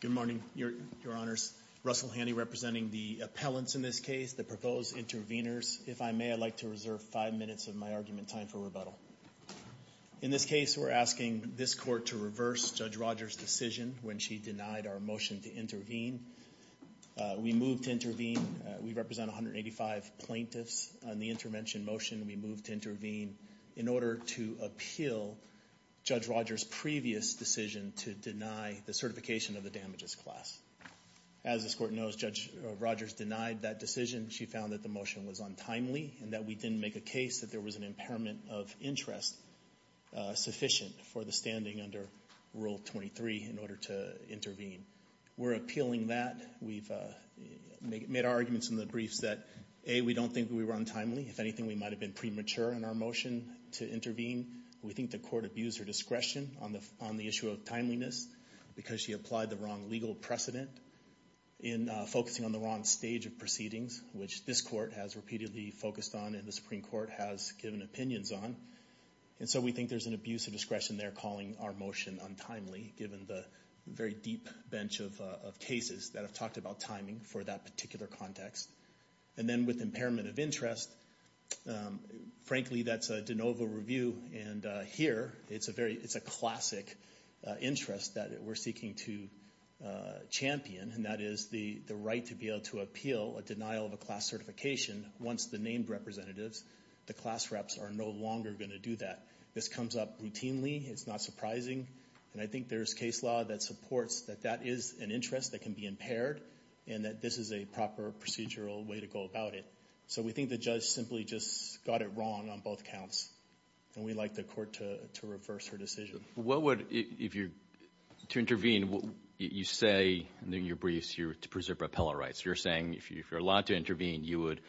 Good morning, Your Honors. Russell Handy representing the appellants in this case, the proposed intervenors. If I may, I'd like to reserve five minutes of my argument time for rebuttal. In this case, we're asking this Court to reverse Judge Rogers' decision when she denied our motion to intervene. We move to intervene. We represent 185 plaintiffs on the intervention motion. We move to intervene in order to appeal Judge Rogers' previous decision to deny the certification of the damages class. As this Court knows, Judge Rogers denied that decision. She found that the motion was untimely and that we didn't make a case that there was an impairment of interest sufficient for the standing under Rule 23 in order to intervene. We're appealing that. We've made our arguments in the briefs that, A, we don't think we were timely. If anything, we might have been premature in our motion to intervene. We think the Court abused her discretion on the issue of timeliness because she applied the wrong legal precedent in focusing on the wrong stage of proceedings, which this Court has repeatedly focused on and the Supreme Court has given opinions on. And so we think there's an abuse of discretion there calling our motion untimely, given the very deep bench of cases that have talked about timing for that particular context. And then with impairment of interest, frankly, that's a de novo review. And here, it's a classic interest that we're seeking to champion, and that is the right to be able to appeal a denial of a class certification once the named representatives, the class reps, are no longer going to do that. This comes up routinely. It's not surprising. And I think there's case law that supports that that is an interest that can be impaired and that this is a proper procedural way to go about it. So we think the judge simply just got it wrong on both counts, and we'd like the Court to reverse her decision. What would, if you're to intervene, you say in your briefs, you're to preserve appellate rights. You're saying if you're allowed to intervene, you would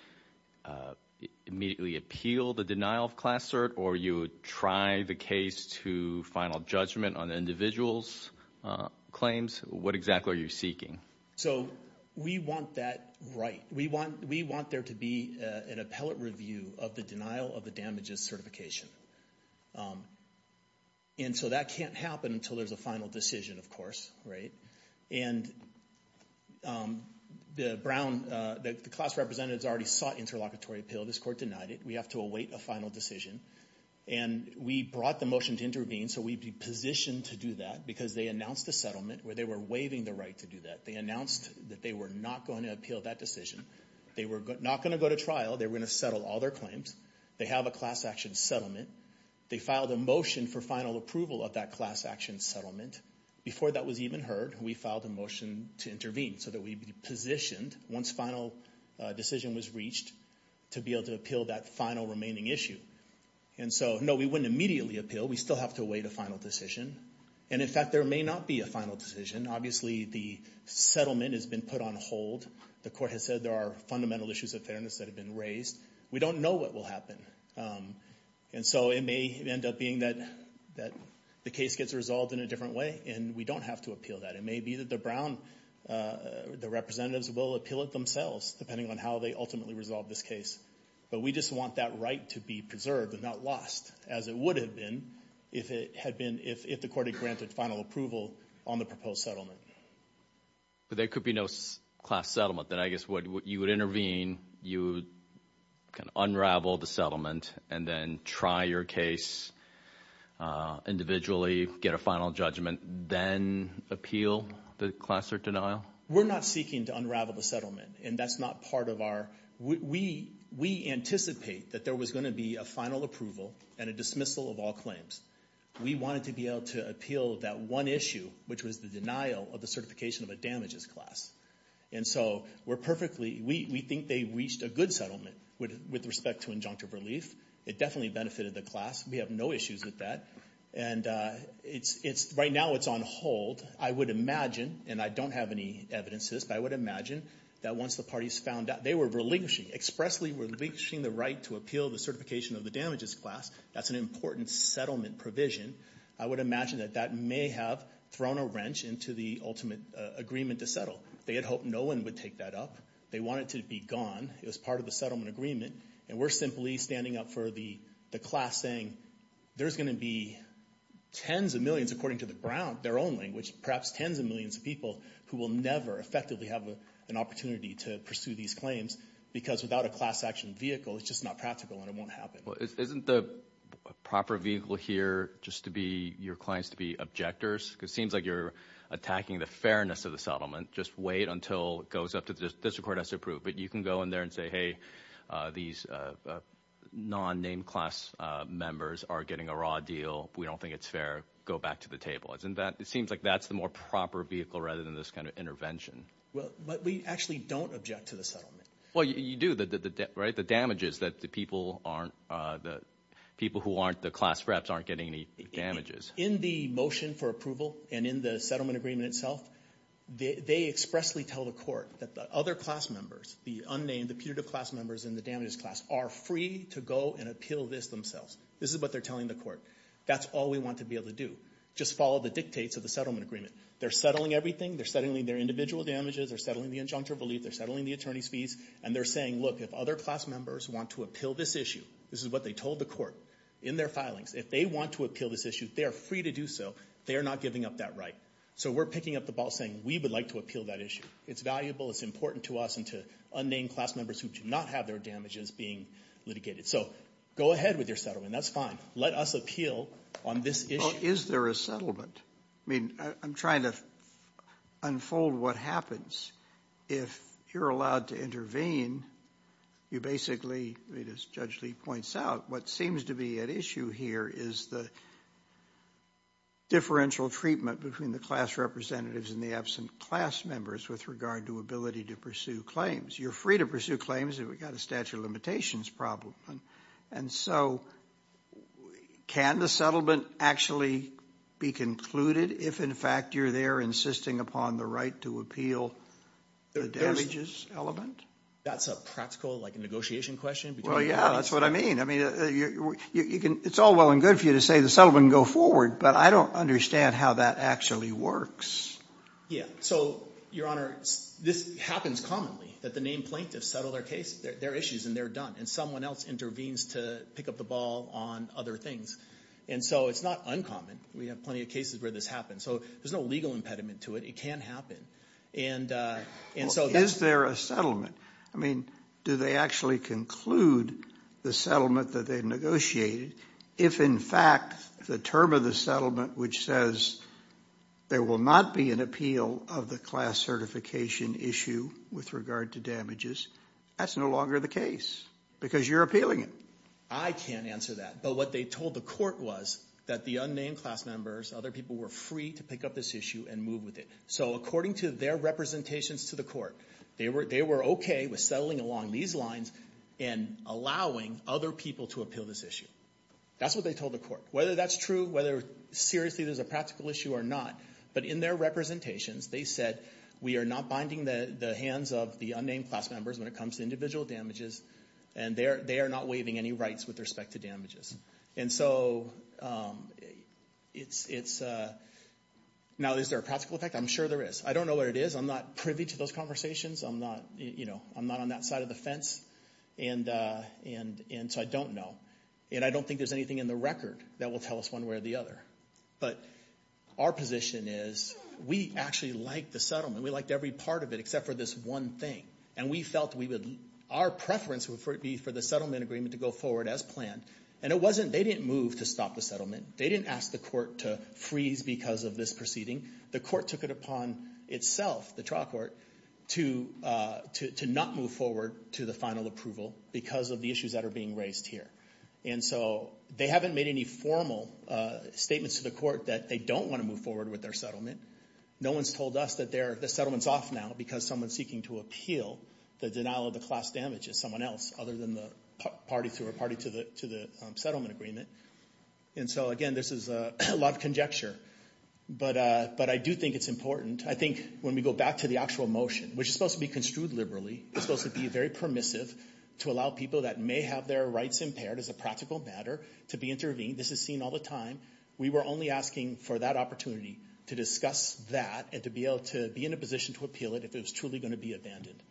immediately appeal the denial of class cert, or you would try the case to final judgment on the individual's claims. What exactly are you seeking? So we want that right. We want there to be an appellate review of the denial of the damages certification. And so that can't happen until there's a final decision, of course, right? And the class representatives already sought interlocutory appeal. This Court denied it. We have to await a final decision. And we brought the motion to intervene, so we'd be positioned to do that because they announced a settlement where they were waiving the right to do that. They announced that they were not going to appeal that decision. They were not going to go to trial. They were going to settle all their claims. They have a class action settlement. They filed a motion for final approval of that class action settlement. Before that was even heard, we filed a motion to intervene, so that we'd be positioned, once final decision was reached, to be able to appeal that final remaining issue. And in fact, there may not be a final decision. Obviously, the settlement has been put on hold. The Court has said there are fundamental issues of fairness that have been raised. We don't know what will happen. And so it may end up being that the case gets resolved in a different way, and we don't have to appeal that. It may be that the Brown, the representatives will appeal it themselves, depending on how they ultimately resolve this case. But we just want that right to be preserved and not lost, as it would have been if it had been, if the Court had granted final approval on the proposed settlement. But there could be no class settlement. Then I guess you would intervene, you would unravel the settlement, and then try your case individually, get a final judgment, then appeal the class or denial? We're not seeking to unravel the settlement. And that's not part of our, we anticipate that there was going to be a final approval and a dismissal of all claims. We wanted to be able to appeal that one issue, which was the denial of the certification of a damages class. And so we're perfectly, we think they reached a good settlement with respect to injunctive relief. It definitely benefited the class. We have no issues with that. And it's, right now it's on hold. I would imagine, and I don't have any evidence to this, but I would imagine that once the parties found out, they were relinquishing, expressly relinquishing the right to appeal the certification of the damages class. That's an important settlement provision. I would imagine that that may have thrown a wrench into the ultimate agreement to settle. They had hoped no one would take that up. They wanted it to be gone. It was part of the settlement agreement. And we're simply standing up for the class saying, there's going to be tens of millions, according to the Brown, their own language, perhaps tens of millions of people who will never effectively have an opportunity to pursue these claims because without a class action vehicle, it's just not practical and it won't happen. Well, isn't the proper vehicle here just to be your clients to be objectors? Because it seems like you're attacking the fairness of the settlement. Just wait until it goes up to the district court has to approve. But you can go in there and say, hey, these non-named class members are getting a raw deal. We don't think it's fair. Go back to the table. Isn't that, it seems like that's the more proper vehicle rather than this kind of intervention. Well, but we actually don't object to the settlement. Well, you do. The damages that the people aren't, the people who aren't the class reps aren't getting any damages. In the motion for approval and in the settlement agreement itself, they expressly tell the court that the other class members, the unnamed, the putative class members and the damages class are free to go and appeal this themselves. This is what they're telling the court. That's all we want to be able to do. Just follow the dictates of the settlement agreement. They're settling everything. They're settling their individual damages. They're settling the injunctive relief. They're settling the attorney's fees. And they're saying, look, if other class members want to appeal this issue, this is what they told the court in their filings. If they want to appeal this issue, they are free to do so. They are not giving up that right. So we're picking up the ball saying we would like to appeal that issue. It's valuable. It's important to us and to unnamed class members who do not have their damages being litigated. So go ahead with your settlement. That's fine. Let us appeal on this issue. Is there a settlement? I mean, I'm trying to unfold what happens. If you're allowed to intervene, you basically, as Judge Lee points out, what seems to be at issue here is the differential treatment between the class representatives and the absent class members with regard to ability to pursue claims. You're free to pursue claims if we've got a statute of limitations problem. And so can the settlement actually be concluded if, in fact, you're there insisting upon the right to appeal the damages element? That's a practical, like, a negotiation question between parties. Well, yeah, that's what I mean. I mean, you can, it's all well and good for you to say the settlement can go forward, but I don't understand how that actually works. Yeah. So, Your Honor, this happens commonly, that the named plaintiffs settle their case, their issues, and they're done. And someone else intervenes to pick up the ball on other things. And so it's not uncommon. We have plenty of cases where this happens. So there's no legal impediment to it. It can happen. And so that's... Is there a settlement? I mean, do they actually conclude the settlement that they negotiated if, in fact, the term of the settlement, which says there will not be an appeal of the class certification issue with regard to damages, that's no longer the case because you're appealing it? I can't answer that. But what they told the court was that the unnamed class members, other people, were free to pick up this issue and move with it. So according to their representations to the court, they were okay with settling along these lines and allowing other people to appeal this issue. That's what they told the court. Whether that's true, whether seriously there's a practical issue or not, but in their representations, they said, we are not binding the hands of the unnamed class members when it comes to individual damages, and they are not waiving any rights with respect to damages. And so it's... Now, is there a practical effect? I'm sure there is. I don't know what it is. I'm not privy to those conversations. I'm not on that side of the fence. And so I don't know. And I don't think there's anything in the record that will tell us one way or the other. But our position is, we actually liked the settlement. We liked every part of it except for this one thing. And we felt our preference would be for the settlement agreement to go forward as planned. And it wasn't... They didn't move to stop the settlement. They didn't ask the court to freeze because of this proceeding. The court took it upon itself, the trial court, to not move forward to the final approval because of the issues that are being raised here. And so they haven't made any formal statements to the court that they don't want to move forward with their settlement. No one's told us that the settlement's off now because someone's seeking to appeal the denial of the class damages, someone else other than the party to the settlement agreement. And so again, this is a lot of conjecture. But I do think it's important. I think when we go back to the actual motion, which is supposed to be construed liberally, it's supposed to be very permissive to allow people that may have their rights impaired as a practical matter to be intervened. This is seen all the time. We were only asking for that opportunity to discuss that and to be able to be in a position to appeal it if it was truly going to be abandoned.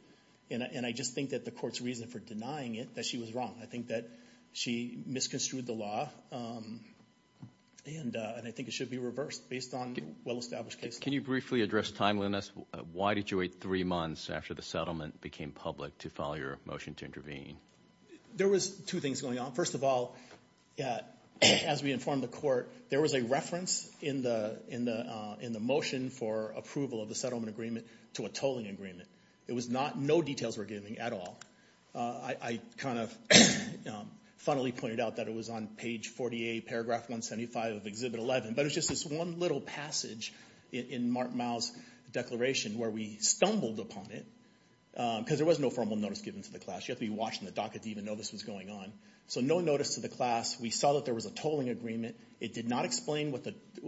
And I just think that the court's reason for denying it, that she was wrong. I think that she misconstrued the law. And I think it should be reversed based on well-established cases. Can you briefly address timeliness? Why did you wait three months after the settlement became public to file your motion to intervene? There was two things going on. First of all, as we informed the court, there was a reference in the motion for approval of the settlement agreement to a tolling agreement. It was not a tolling agreement. No details were given at all. I kind of funnily pointed out that it was on page 48, paragraph 175 of Exhibit 11. But it was just this one little passage in Mark Mao's declaration where we stumbled upon it, because there was no formal notice given to the class. You have to be watching the docket to even know this was going on. So no notice to the class. We saw that there was a tolling agreement. It did not explain what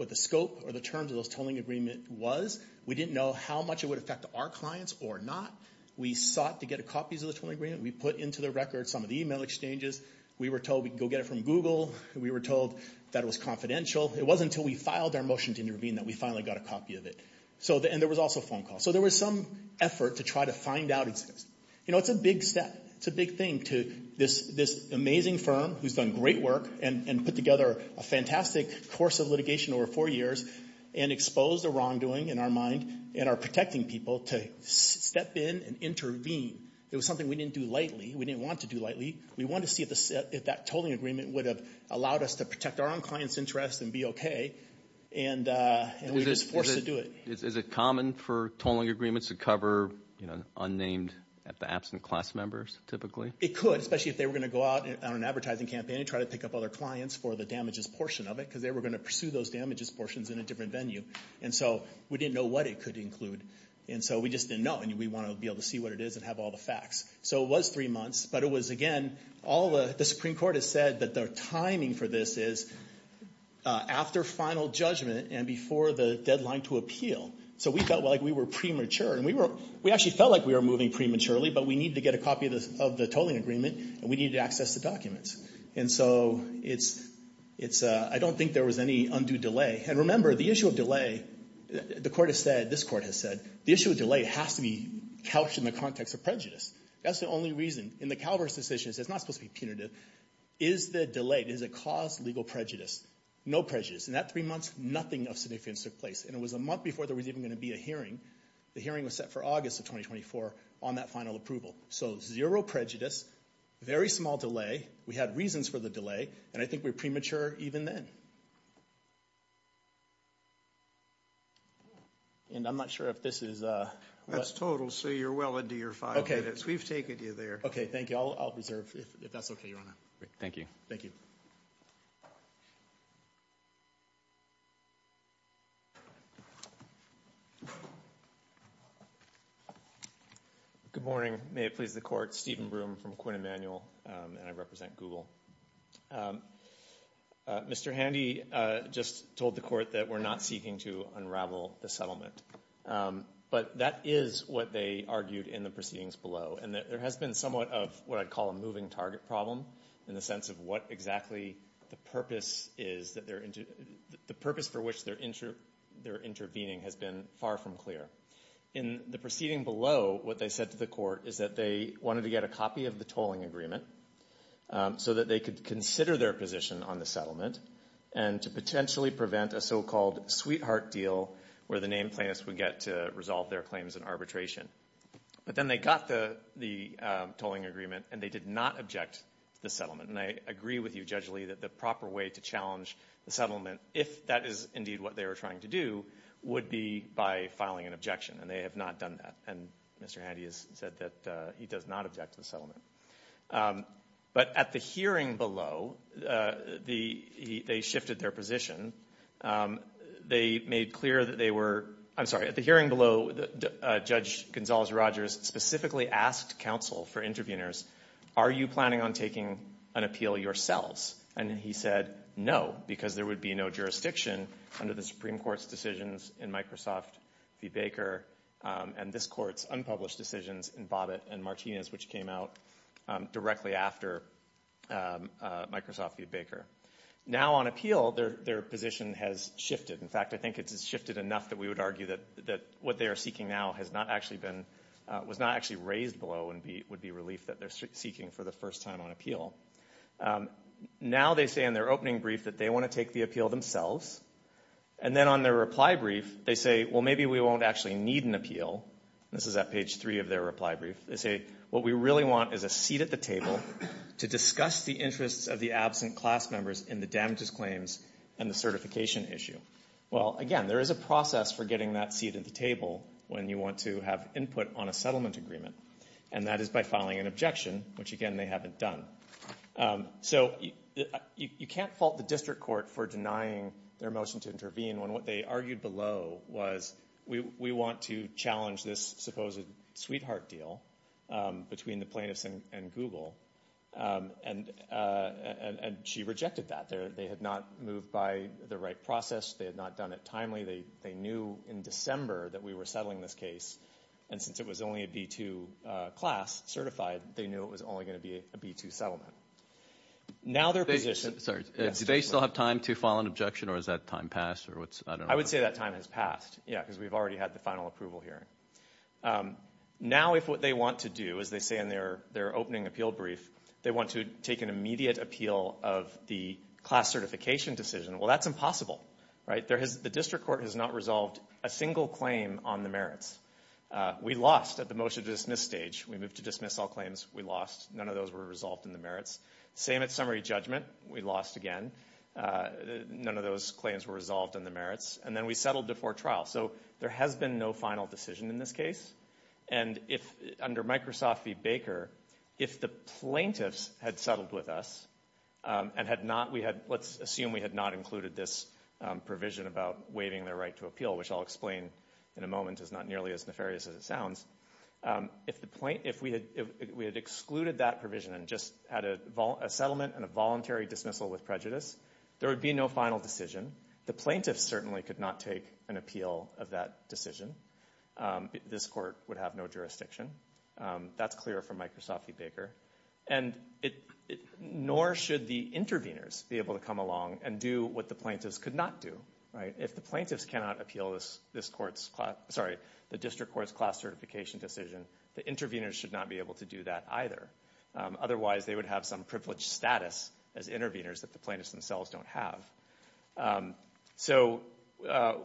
the scope or the terms of those tolling agreement was. We didn't know how much it would affect our clients or not. We sought to get copies of the tolling agreement. We put into the record some of the email exchanges. We were told we could go get it from Google. We were told that it was confidential. It wasn't until we filed our motion to intervene that we finally got a copy of it. And there was also a phone call. So there was some effort to try to find out. It's a big step. It's a big thing to this amazing firm who's done great work and put together a fantastic course of litigation over four years and exposed a wrongdoing in our mind and are protecting people to step in and intervene. It was something we didn't do lightly. We didn't want to do lightly. We wanted to see if that tolling agreement would have allowed us to protect our own clients' interests and be okay. And we were just forced to do it. Is it common for tolling agreements to cover unnamed, absent class members typically? It could, especially if they were going to go out on an advertising campaign and try to pick up other clients for the damages portion of it, because they were going to pursue those damages portions in a different venue. And so we didn't know what it could include. And so we just didn't know. And we want to be able to see what it is and have all the facts. So it was three months. But it was, again, all the Supreme Court has said that the timing for this is after final judgment and before the deadline to appeal. So we felt like we were premature. And we actually felt like we were moving prematurely, but we needed to get a copy of the tolling agreement and we needed to access the documents. And so it's, I don't think there was any undue delay. And remember, the issue of delay, the court has said, this court has said, the issue of delay has to be couched in the context of prejudice. That's the only reason. In the CalVERS decision, it's not supposed to be punitive. Is the delay, does it cause legal prejudice? No prejudice. In that three months, nothing of significance took place. And it was a month before there was even going to be a hearing. The hearing was set for August of 2024 on that final approval. So zero prejudice, very small delay. We had reasons for the delay. And I think we're premature even then. And I'm not sure if this is a... That's total, so you're well into your five minutes. We've taken you there. Okay, thank you. I'll reserve, if that's okay, Your Honor. Thank you. Thank you. Good morning. May it please the court, Stephen Broom from Quinn Emanuel, and I represent Google. Mr. Handy just told the court that we're not seeking to unravel the settlement. But that is what they argued in the proceedings below. And there has been somewhat of what they call a moving target problem in the sense of what exactly the purpose is that they're... The purpose for which they're intervening has been far from clear. In the proceeding below, what they said to the court is that they wanted to get a copy of the tolling agreement so that they could consider their position on the settlement and to potentially prevent a so-called sweetheart deal where the named plaintiffs would get to resolve their claims as an arbitration. But then they got the tolling agreement, and they did not object to the settlement. And I agree with you, Judge Lee, that the proper way to challenge the settlement, if that is indeed what they were trying to do, would be by filing an objection. And they have not done that. And Mr. Handy has said that he does not object to the settlement. But at the hearing below, they shifted their position. They made clear that they were... I'm sorry, at the hearing below, Judge Gonzales-Rogers specifically asked counsel for interveners, are you planning on taking an appeal yourselves? And he said no, because there would be no jurisdiction under the Supreme Court's decisions in Microsoft v. Baker and this Court's unpublished decisions in Bobbitt and Martinez, which came out directly after Microsoft v. Baker. Now on appeal, their position has shifted. In fact, I think it's shifted enough that we would argue that what they are seeking now has not actually been, was not actually raised below and would be relief that they're seeking for the first time on appeal. Now they say in their opening brief that they want to take the appeal themselves. And then on their reply brief, they say, well, maybe we won't actually need an appeal. This is at page three of their reply brief. They say, what we really want is a seat at the table to discuss the interests of the absent class members in the damages claims and the certification issue. Well, again, there is a process for getting that seat at the table when you want to have input on a settlement agreement. And that is by filing an objection, which again they haven't done. So you can't fault the District Court for denying their motion to intervene when what they argued below was we want to challenge this supposed sweetheart deal between the plaintiffs and Google. And she rejected that. They had not moved by the right process. They had not done it timely. They knew in December that we were settling this case. And since it was only a B-2 class certified, they knew it was only going to be a B-2 settlement. Now their position. Sorry. Do they still have time to file an objection or has that time passed? I would say that time has passed, yeah, because we've already had the final approval hearing. Now if what they want to do, as they say in their opening appeal brief, they want to take an immediate appeal of the class certification decision, well, that's impossible, right? The District Court has not resolved a single claim on the merits. We lost at the motion to dismiss stage. We moved to dismiss all claims. We lost. None of those were resolved in the merits. Same at summary judgment. We lost again. None of those claims were resolved in the merits. And then we settled before trial. So there has been no final decision in this case. And if, under Microsoft v. Baker, if the plaintiffs had settled with us and had not, we had, let's assume we had not included this provision about waiving their right to appeal, which I'll explain in a moment is not nearly as nefarious as it sounds. If we had excluded that provision and just had a settlement and a voluntary dismissal with prejudice, there would be no final decision. The plaintiffs certainly could not take an appeal of that decision. This Court would have no jurisdiction. That's clear from Microsoft v. Baker. And nor should the intervenors be able to come along and do what the plaintiffs could not do, right? If the plaintiffs cannot appeal this Court's, sorry, the District Court's class certification decision, the intervenors should not be able to do that either. Otherwise, they would have some privileged status as intervenors that the plaintiffs themselves don't have. So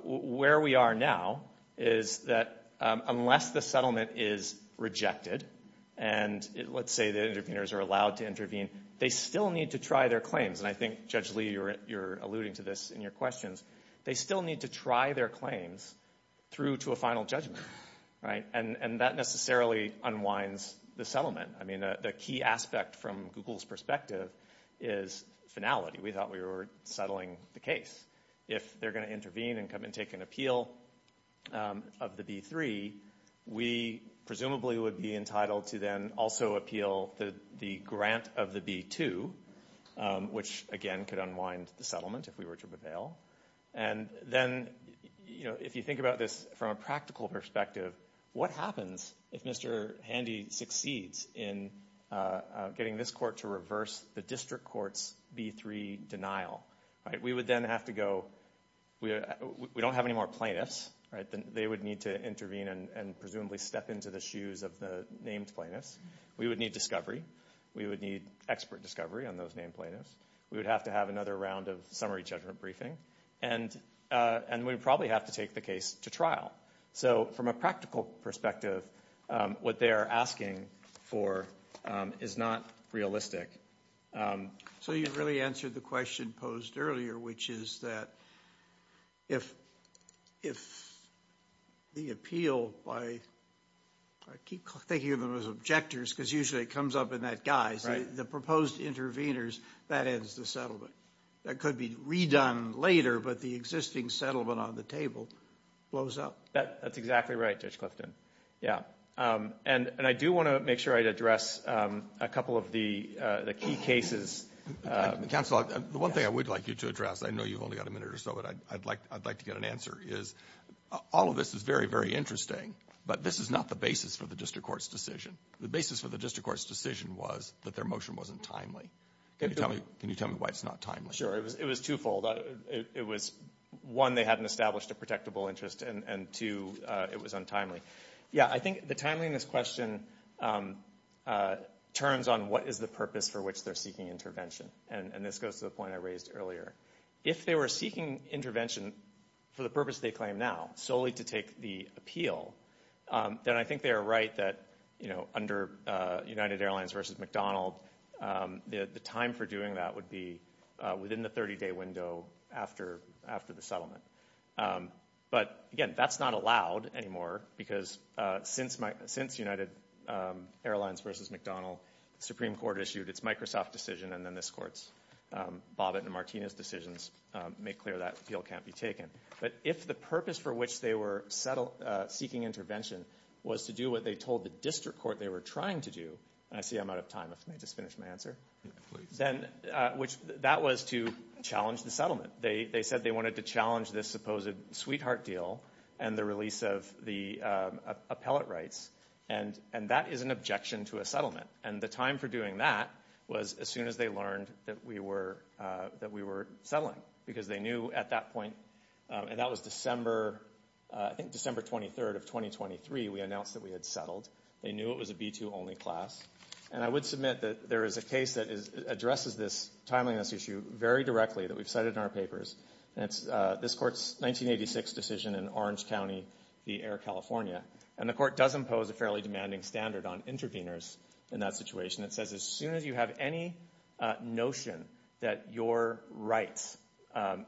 where we are now is that unless the settlement is rejected, and let's say the intervenors are allowed to intervene, they still need to try their claims. And I think, Judge Lee, you're alluding to this in your questions. They still need to try their claims through to a final judgment, right? And that necessarily unwinds the settlement. I mean, the key aspect from Google's perspective is finality. We thought we were settling the case. If they're going to intervene and come and take an appeal of the B-3, we presumably would be entitled to then also appeal the grant of the B-2, which, again, could unwind the settlement if we were to prevail. And then, you know, if you think about this from a practical perspective, what happens if Mr. Handy succeeds in getting this court to reverse the District Court's B-3 denial, right? We would then have to go, we don't have any more plaintiffs, right? They would need to intervene and presumably step into the shoes of the named plaintiffs. We would need discovery. We would need expert discovery on those named plaintiffs. We would have to have another round of summary judgment briefing. And we would probably have to take the case to trial. So from a practical perspective, what they are asking for is not realistic. So you really answered the question posed earlier, which is that if the appeal by, I keep thinking of them as objectors because usually it comes up in that guise, the proposed intervenors, that ends the settlement. That could be redone later, but the existing settlement on the table blows up. That's exactly right, Judge Clifton. Yeah. And I do want to make sure I address a couple of the key cases. Counsel, the one thing I would like you to address, I know you've only got a minute or so, but I'd like to get an answer, is all of this is very, very interesting, but this is not the basis for the District Court's decision. The basis for the District Court's decision was that their motion wasn't timely. Can you tell me why it's not timely? Sure. It was twofold. It was, one, they hadn't established a protectable interest, and two, it was untimely. Yeah, I think the timeliness question turns on what is the purpose for which they're seeking intervention, and this goes to the point I raised earlier. If they were seeking intervention for the purpose they claim now, solely to take the appeal, then I think they are right that, you know, under United Airlines versus McDonald, the time for doing that would be within the 30-day window after the settlement. But, again, that's not allowed anymore, because since United Airlines versus McDonald, the Supreme Court issued its Microsoft decision, and then this Court's, Bobbitt and Martinez decisions, make clear that appeal can't be taken. But if the purpose for which they were seeking intervention was to do what they told the District Court they were trying to do, and I see I'm out of time, if I may just finish my answer, then, which, that was to challenge the settlement. They said they wanted to challenge this supposed sweetheart deal and the release of the appellate rights, and that is an objection to a settlement, and the time for doing that was as soon as they learned that we were settling, because they knew at that point, and that was December, I think December 23rd of 2023, we announced that we had settled. They knew it was a B-2 only class, and I would submit that there is a case that addresses this timeliness issue very directly that we've cited in our papers, and it's this Court's 1986 decision in Orange County v. Air California, and the Court does impose a fairly demanding standard on interveners in that situation. It says as soon as you have any notion that your rights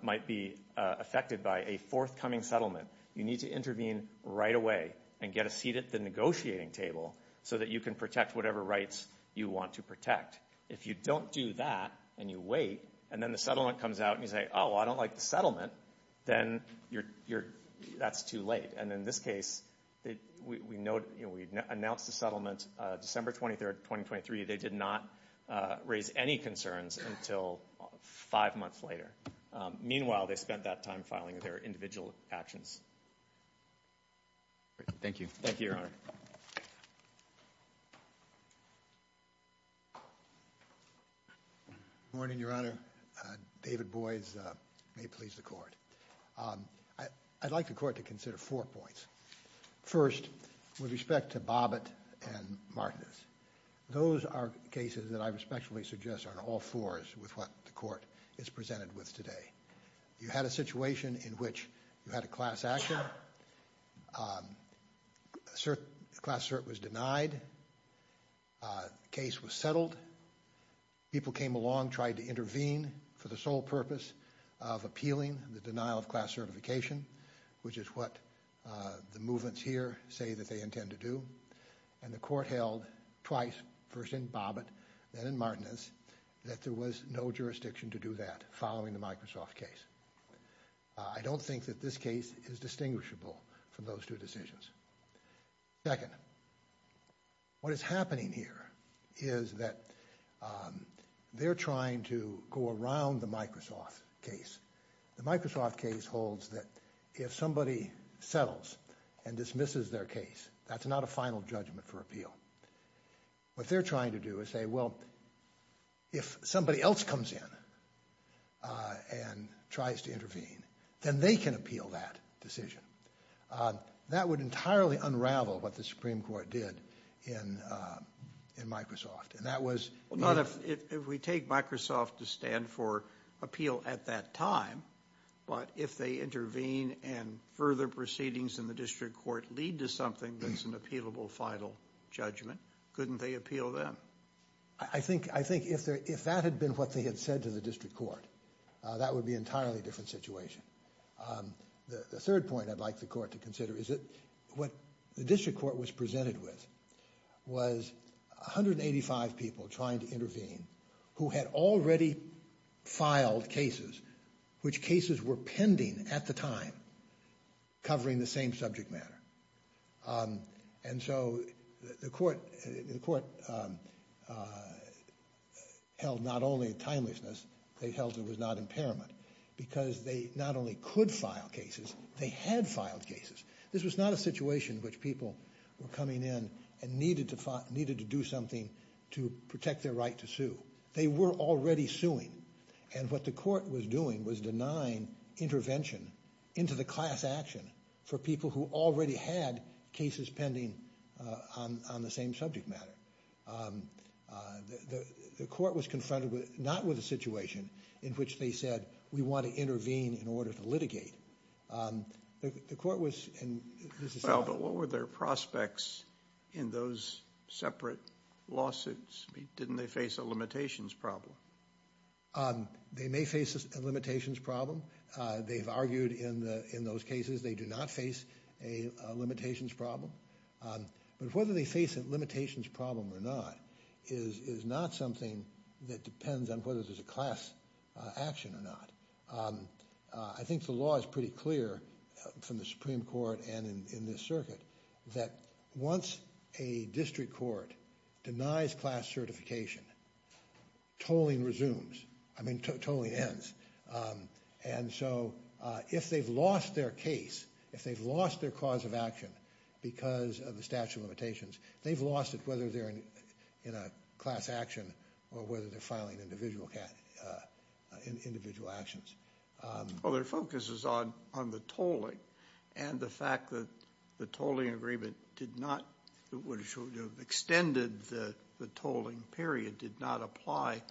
might be affected by a forthcoming settlement, you need to intervene right away and get a seat at the negotiating table so that you can protect whatever rights you want to protect. If you don't do that, and you wait, and then the settlement comes out, and you say, oh, I don't like the settlement, then that's too late, and in this case, we announced the settlement December 23rd, 2023. They did not raise any concerns until five months later. Meanwhile, they spent that time filing their individual actions. Thank you. Thank you, Your Honor. David Boies. Good morning, Your Honor. David Boies. May it please the Court. I'd like the Court to consider four points. First, with respect to Bobbitt and Martinez, those are cases that I respectfully suggest are on all fours with what the Court is presented with today. You had a situation in which you had a class action, a class cert was denied, the case was settled, people came along, tried to intervene for the sole purpose of appealing the denial of class certification, which is what the movements here say that they intend to do, and the Court held twice, first in Bobbitt, then in Martinez, that there was no jurisdiction to do that following the Microsoft case. I don't think that this case is distinguishable from those two decisions. Second, what is happening here is that they're trying to go around the Microsoft case. The Microsoft case holds that if somebody settles and dismisses their case, that's not a final judgment for appeal. What they're trying to do is say, well, if somebody else comes in and tries to intervene, then they can appeal that decision. That would entirely unravel what the Supreme Court did in Microsoft, and that was... Well, not if we take Microsoft to stand for appeal at that time, but if they intervene and further proceedings in the District Court lead to something that's an appealable final judgment, couldn't they appeal then? I think if that had been what they had said to the District Court, that would be an entirely different situation. The third point I'd like the Court to consider is that what the District Court was presented with was 185 people trying to intervene who had already filed cases, which cases were pending at the time, covering the same subject matter. And so the Court held not only timeliness, they held there was not impairment, because they not only could file cases, they had filed cases. This was not a situation in which people were coming in and needed to do something to protect their right to sue. They were already suing, and what the Court was doing was denying intervention into the class action for people who already had cases pending on the same subject matter. The Court was confronted not with a situation in which they said, we want to intervene in order to litigate. The Court was... Well, but what were their prospects in those separate lawsuits? Didn't they face a limitations problem? They may face a limitations problem. They've argued in those cases they do not face a limitations problem. But whether they face a limitations problem or not is not something that depends on whether there's a class action or not. I think the law is pretty clear from the Supreme Court and in this circuit that once a District Court denies class certification, totally resumes, I mean totally ends. And so if they've lost their case, if they've lost their cause of action because of the statute of limitations, they've lost it whether they're in a class action or whether they're filing individual actions. Well, their focus is on the tolling and the fact that the tolling agreement did not, would have extended the tolling period, did not apply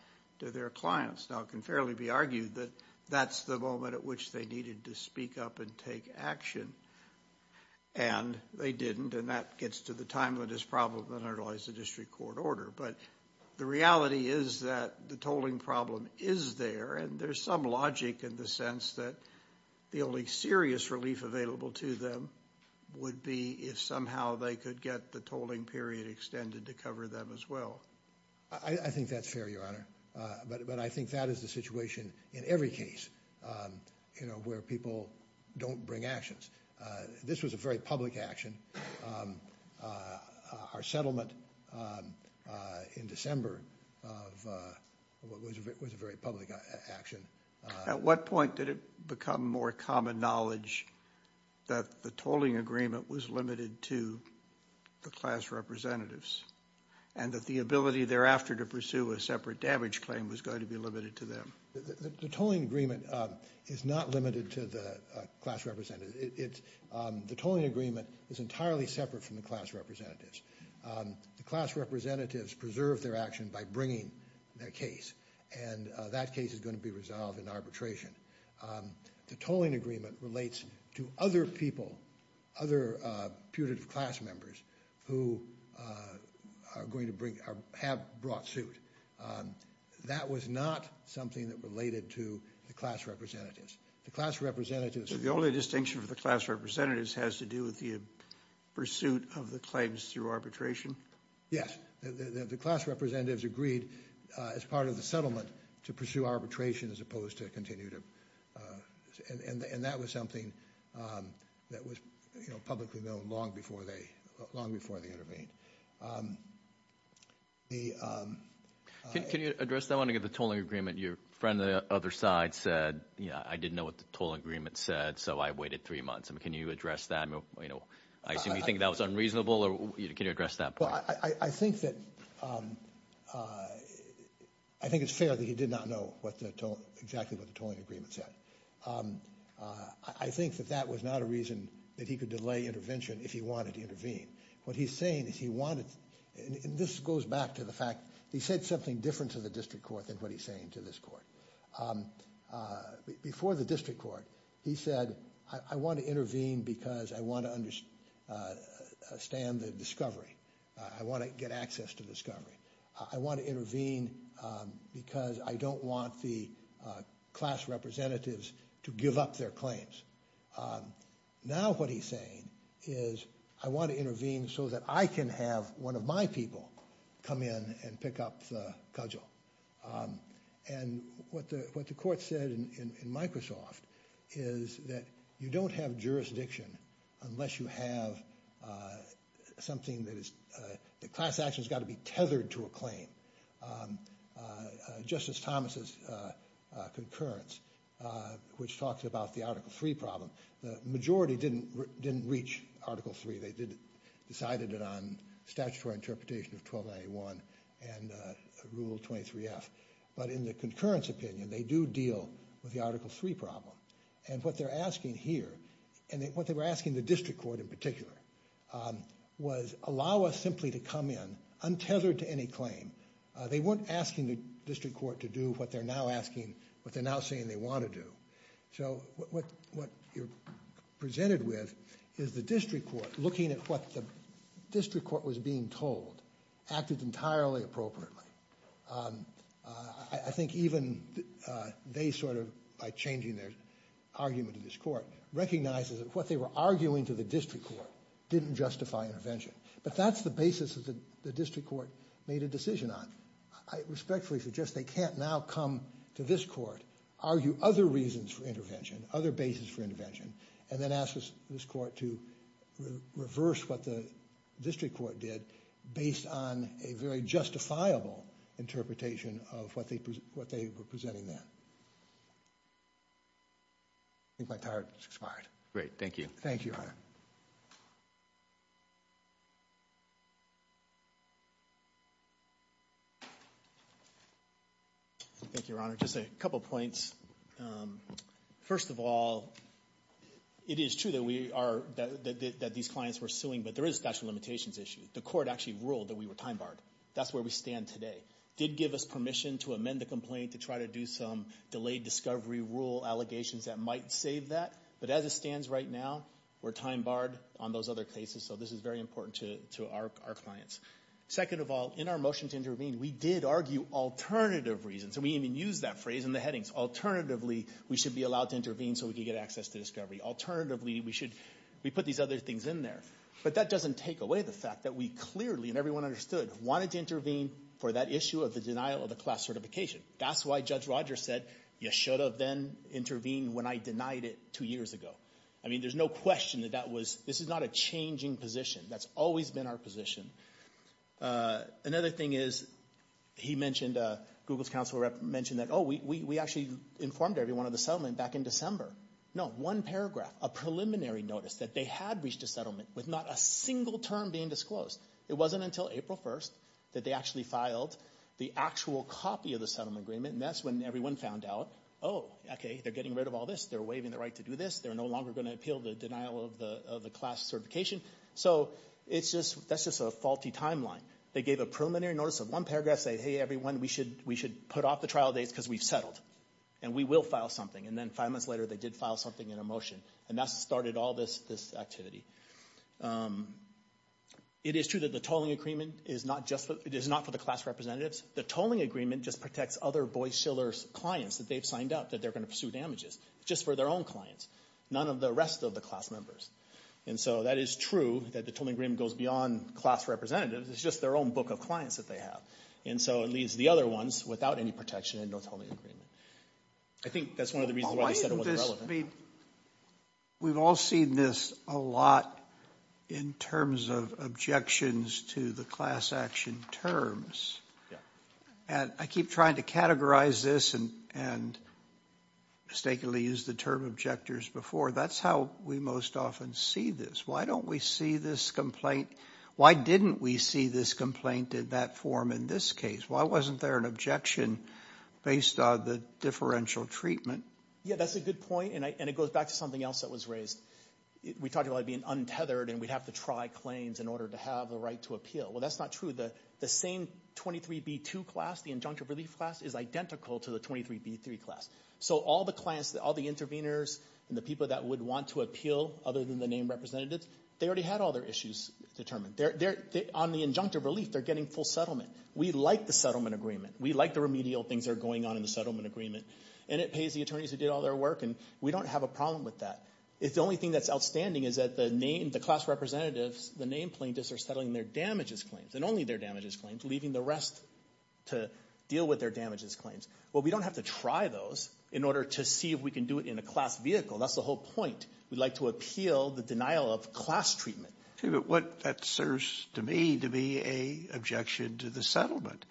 to their clients. Now it can fairly be argued that that's the moment at which they needed to speak up and take action. And they didn't and that gets to the timeliness problem that underlies the District Court order. But the reality is that the tolling problem is there and there's some logic in the sense that the only serious relief available to them would be if somehow they could get the tolling period extended to cover them as well. I think that's fair, Your Honor. But I think that is the situation in every case, you know, where people don't bring actions. This was a very public action. Our settlement in December of what was a very public action. At what point did it become more common knowledge that the tolling agreement was limited to the class representatives and that the ability thereafter to pursue a separate damage claim was going to be limited to them? The tolling agreement is not limited to the class representatives. The tolling agreement is entirely separate from the class representatives. The class representatives preserve their action by bringing their case and that case is going to be resolved in arbitration. The tolling agreement relates to other people, other putative class members who are going to bring, have brought suit. That was not something that related to the class representatives. The class representatives... The only distinction for the class representatives has to do with the pursuit of the claims through arbitration? Yes. The class representatives agreed as part of the settlement to pursue arbitration as opposed to continue to... And that was something that was publicly known long before they intervened. Can you address that one again, the tolling agreement? Your friend on the other side said, you know, I didn't know what the tolling agreement said so I waited three months. Can you address that? I assume you think that was unreasonable or can you address that point? I think it's fair that he did not know exactly what the tolling agreement said. I think that that was not a reason that he could delay intervention if he wanted to intervene. What he's saying is he wanted... And this goes back to the fact that he said something different to the district court than what he's saying to this court. Before the district court, he said, I want to intervene because I want to understand the discovery. I want to get access to the discovery. I want to intervene because I don't want the class representatives to give up their claims. Now what he's saying is I want to intervene so that I can have one of my people come in and pick up the cudgel. And what the court said in Microsoft is that you don't have jurisdiction unless you have something that is... The class action has got to be tethered to a claim. Justice Thomas's concurrence, which talks about the Article 3 problem, the majority didn't reach Article 3. They decided it on statutory interpretation of 1291 and Rule 23F. But in the concurrence opinion, they do deal with the Article 3 problem and what they're asking here, and what they were asking the district court in particular, was allow us simply to come in untethered to any claim. They weren't asking the district court to do what they're now asking, what they're now saying they want to do. So what you're presented with is the district court looking at what the district court was being told acted entirely appropriately. I think even they sort of, by changing their... They changed their argument to this court, recognizes that what they were arguing to the district court didn't justify intervention. But that's the basis that the district court made a decision on. I respectfully suggest they can't now come to this court, argue other reasons for intervention, other basis for intervention, and then ask this court to reverse what the district court did based on a very justifiable interpretation of what they were presenting them. I think my time has expired. Great, thank you. Thank you, Your Honor. Thank you, Your Honor. Just a couple points. First of all, it is true that we are... That these clients were suing, but there is a statute of limitations issue. The court actually ruled that we were time barred. That's where we stand today. Did give us permission to amend the complaint to try to do some delayed discovery rule allegations that might save that. But as it stands right now, we're time barred on those other cases. So this is very important to our clients. Second of all, in our motion to intervene, we did argue alternative reasons. We even used that phrase in the headings. Alternatively, we should be allowed to intervene so we could get access to discovery. Alternatively, we should... We put these other things in there. But that doesn't take away the fact that we clearly, and everyone understood, wanted to intervene for that issue of the denial of the class certification. That's why Judge Rogers said, you should have then intervened when I denied it two years ago. I mean, there's no question that that was... This is not a changing position. That's always been our position. Another thing is, he mentioned, Google's counsel mentioned that, oh, we actually informed everyone of the settlement back in December. No, one paragraph, a preliminary notice that they had reached a settlement with not a single term being disclosed. It wasn't until April 1st that they actually filed the actual copy of the settlement agreement, and that's when everyone found out, oh, okay, they're getting rid of all this. They're waiving the right to do this. They're no longer going to appeal the denial of the class certification. So it's just... That's just a faulty timeline. They gave a preliminary notice of one paragraph, say, hey, everyone, we should put off the trial dates because we've settled, and we will file something. And then five months later, they did file something in a motion, and that started all this activity. It is true that the tolling agreement is not just for... It is not for the class representatives. The tolling agreement just protects other Boies Shiller's clients that they've signed up that they're going to pursue damages. It's just for their own clients, none of the rest of the class members. And so that is true that the tolling agreement goes beyond class representatives. It's just their own book of clients that they have. And so it leaves the other ones without any protection and no tolling agreement. I think that's one of the reasons why they said it wasn't relevant. I mean, we've all seen this a lot in terms of objections to the class action terms. And I keep trying to categorize this and mistakenly use the term objectors before. That's how we most often see this. Why don't we see this complaint? Why didn't we see this complaint in that form in this case? Why wasn't there an objection based on the differential treatment? Yeah, that's a good point. And it goes back to something else that was raised. We talked about it being untethered and we'd have to try claims in order to have the right to appeal. Well, that's not true. The same 23B2 class, the injunctive relief class, is identical to the 23B3 class. So all the clients, all the interveners and the people that would want to appeal other than the name representatives, they already had all their issues determined. On the injunctive relief, they're getting full settlement. We like the settlement agreement. We like the remedial things that are going on in the settlement agreement. And it pays the attorneys who did all their work and we don't have a problem with that. If the only thing that's outstanding is that the name, the class representatives, the name plaintiffs are settling their damages claims and only their damages claims, leaving the rest to deal with their damages claims. Well, we don't have to try those in order to see if we can do it in a class vehicle. That's the whole point. We'd like to appeal the denial of class treatment. But what that serves to me to be a objection to the settlement.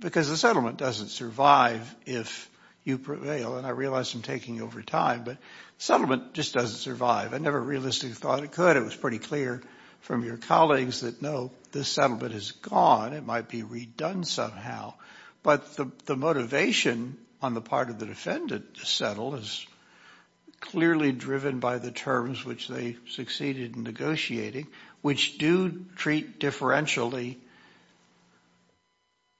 Because the settlement doesn't survive if you prevail. And I realize I'm taking over time, but settlement just doesn't survive. I never realistically thought it could. It was pretty clear from your colleagues that no, this settlement is gone. It might be redone somehow. But the motivation on the part of the defendant to settle is clearly driven by the terms which they succeeded in negotiating, which do treat differentially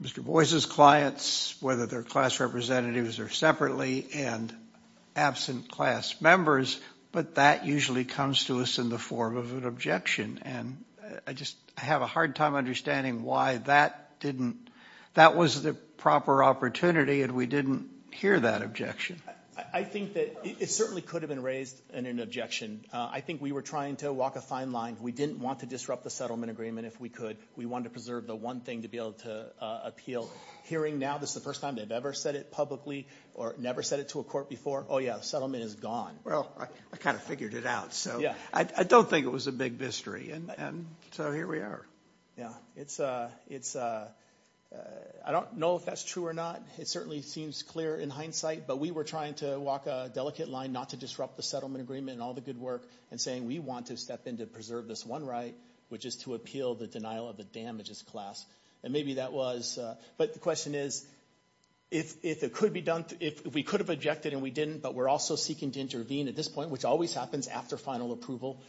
Mr. Boies' clients, whether they're class representatives or separately, and absent class members. But that usually comes to us in the form of an objection. And I just have a hard time understanding why that didn't – that was the proper opportunity and we didn't hear that objection. I think that it certainly could have been raised in an objection. I think we were trying to walk a fine line. We didn't want to disrupt the settlement agreement if we could. We wanted to preserve the one thing to be able to appeal. Hearing now, this is the first time they've ever said it publicly or never said it to a court before, oh yeah, the settlement is gone. Well, I kind of figured it out. So I don't think it was a big mystery. And so here we are. Yeah. It's – I don't know if that's true or not. It certainly seems clear in hindsight. But we were trying to walk a delicate line not to disrupt the settlement agreement and all the good work, and saying we want to step in to preserve this one right, which is to appeal the denial of the damages class. And maybe that was – but the question is, if it could be done – if we could have objected and we didn't, but we're also seeking to intervene at this point, which always happens after final approval,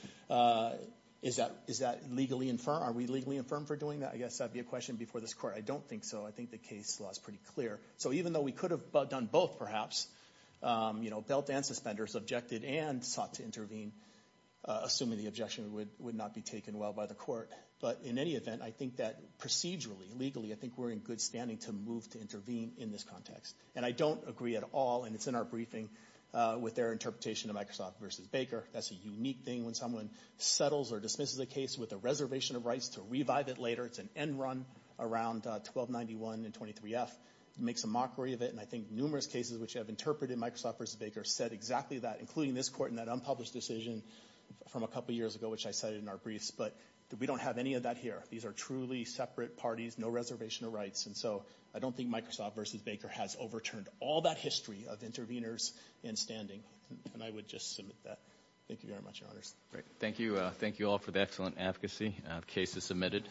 is that – is that legally infirm? Are we legally infirm for doing that? I guess that'd be a question before this court. I don't think so. I think the case law is pretty clear. So even though we could have done both perhaps, you know, belt and suspenders, objected and sought to intervene, assuming the objection would not be taken well by the court. But in any event, I think that procedurally, legally, I think we're in good standing to move to intervene in this context. And I don't agree at all – and it's in our briefing with their interpretation of Microsoft v. Baker. That's a unique thing when someone settles or dismisses a case with a reservation of rights to revive it later. It's an end run around 1291 and 23F. It makes a mockery of it. And I think numerous cases which have interpreted Microsoft v. Baker said exactly that, including this court in that unpublished decision from a couple of years ago, which I cited in our briefs. But we don't have any of that here. These are truly separate parties, no reservation of rights. And so I don't think Microsoft v. Baker has overturned all that history of interveners in standing. And I would just submit that. Thank you very much, Your Honors. Thank you. Thank you all for the excellent advocacy. The case is submitted.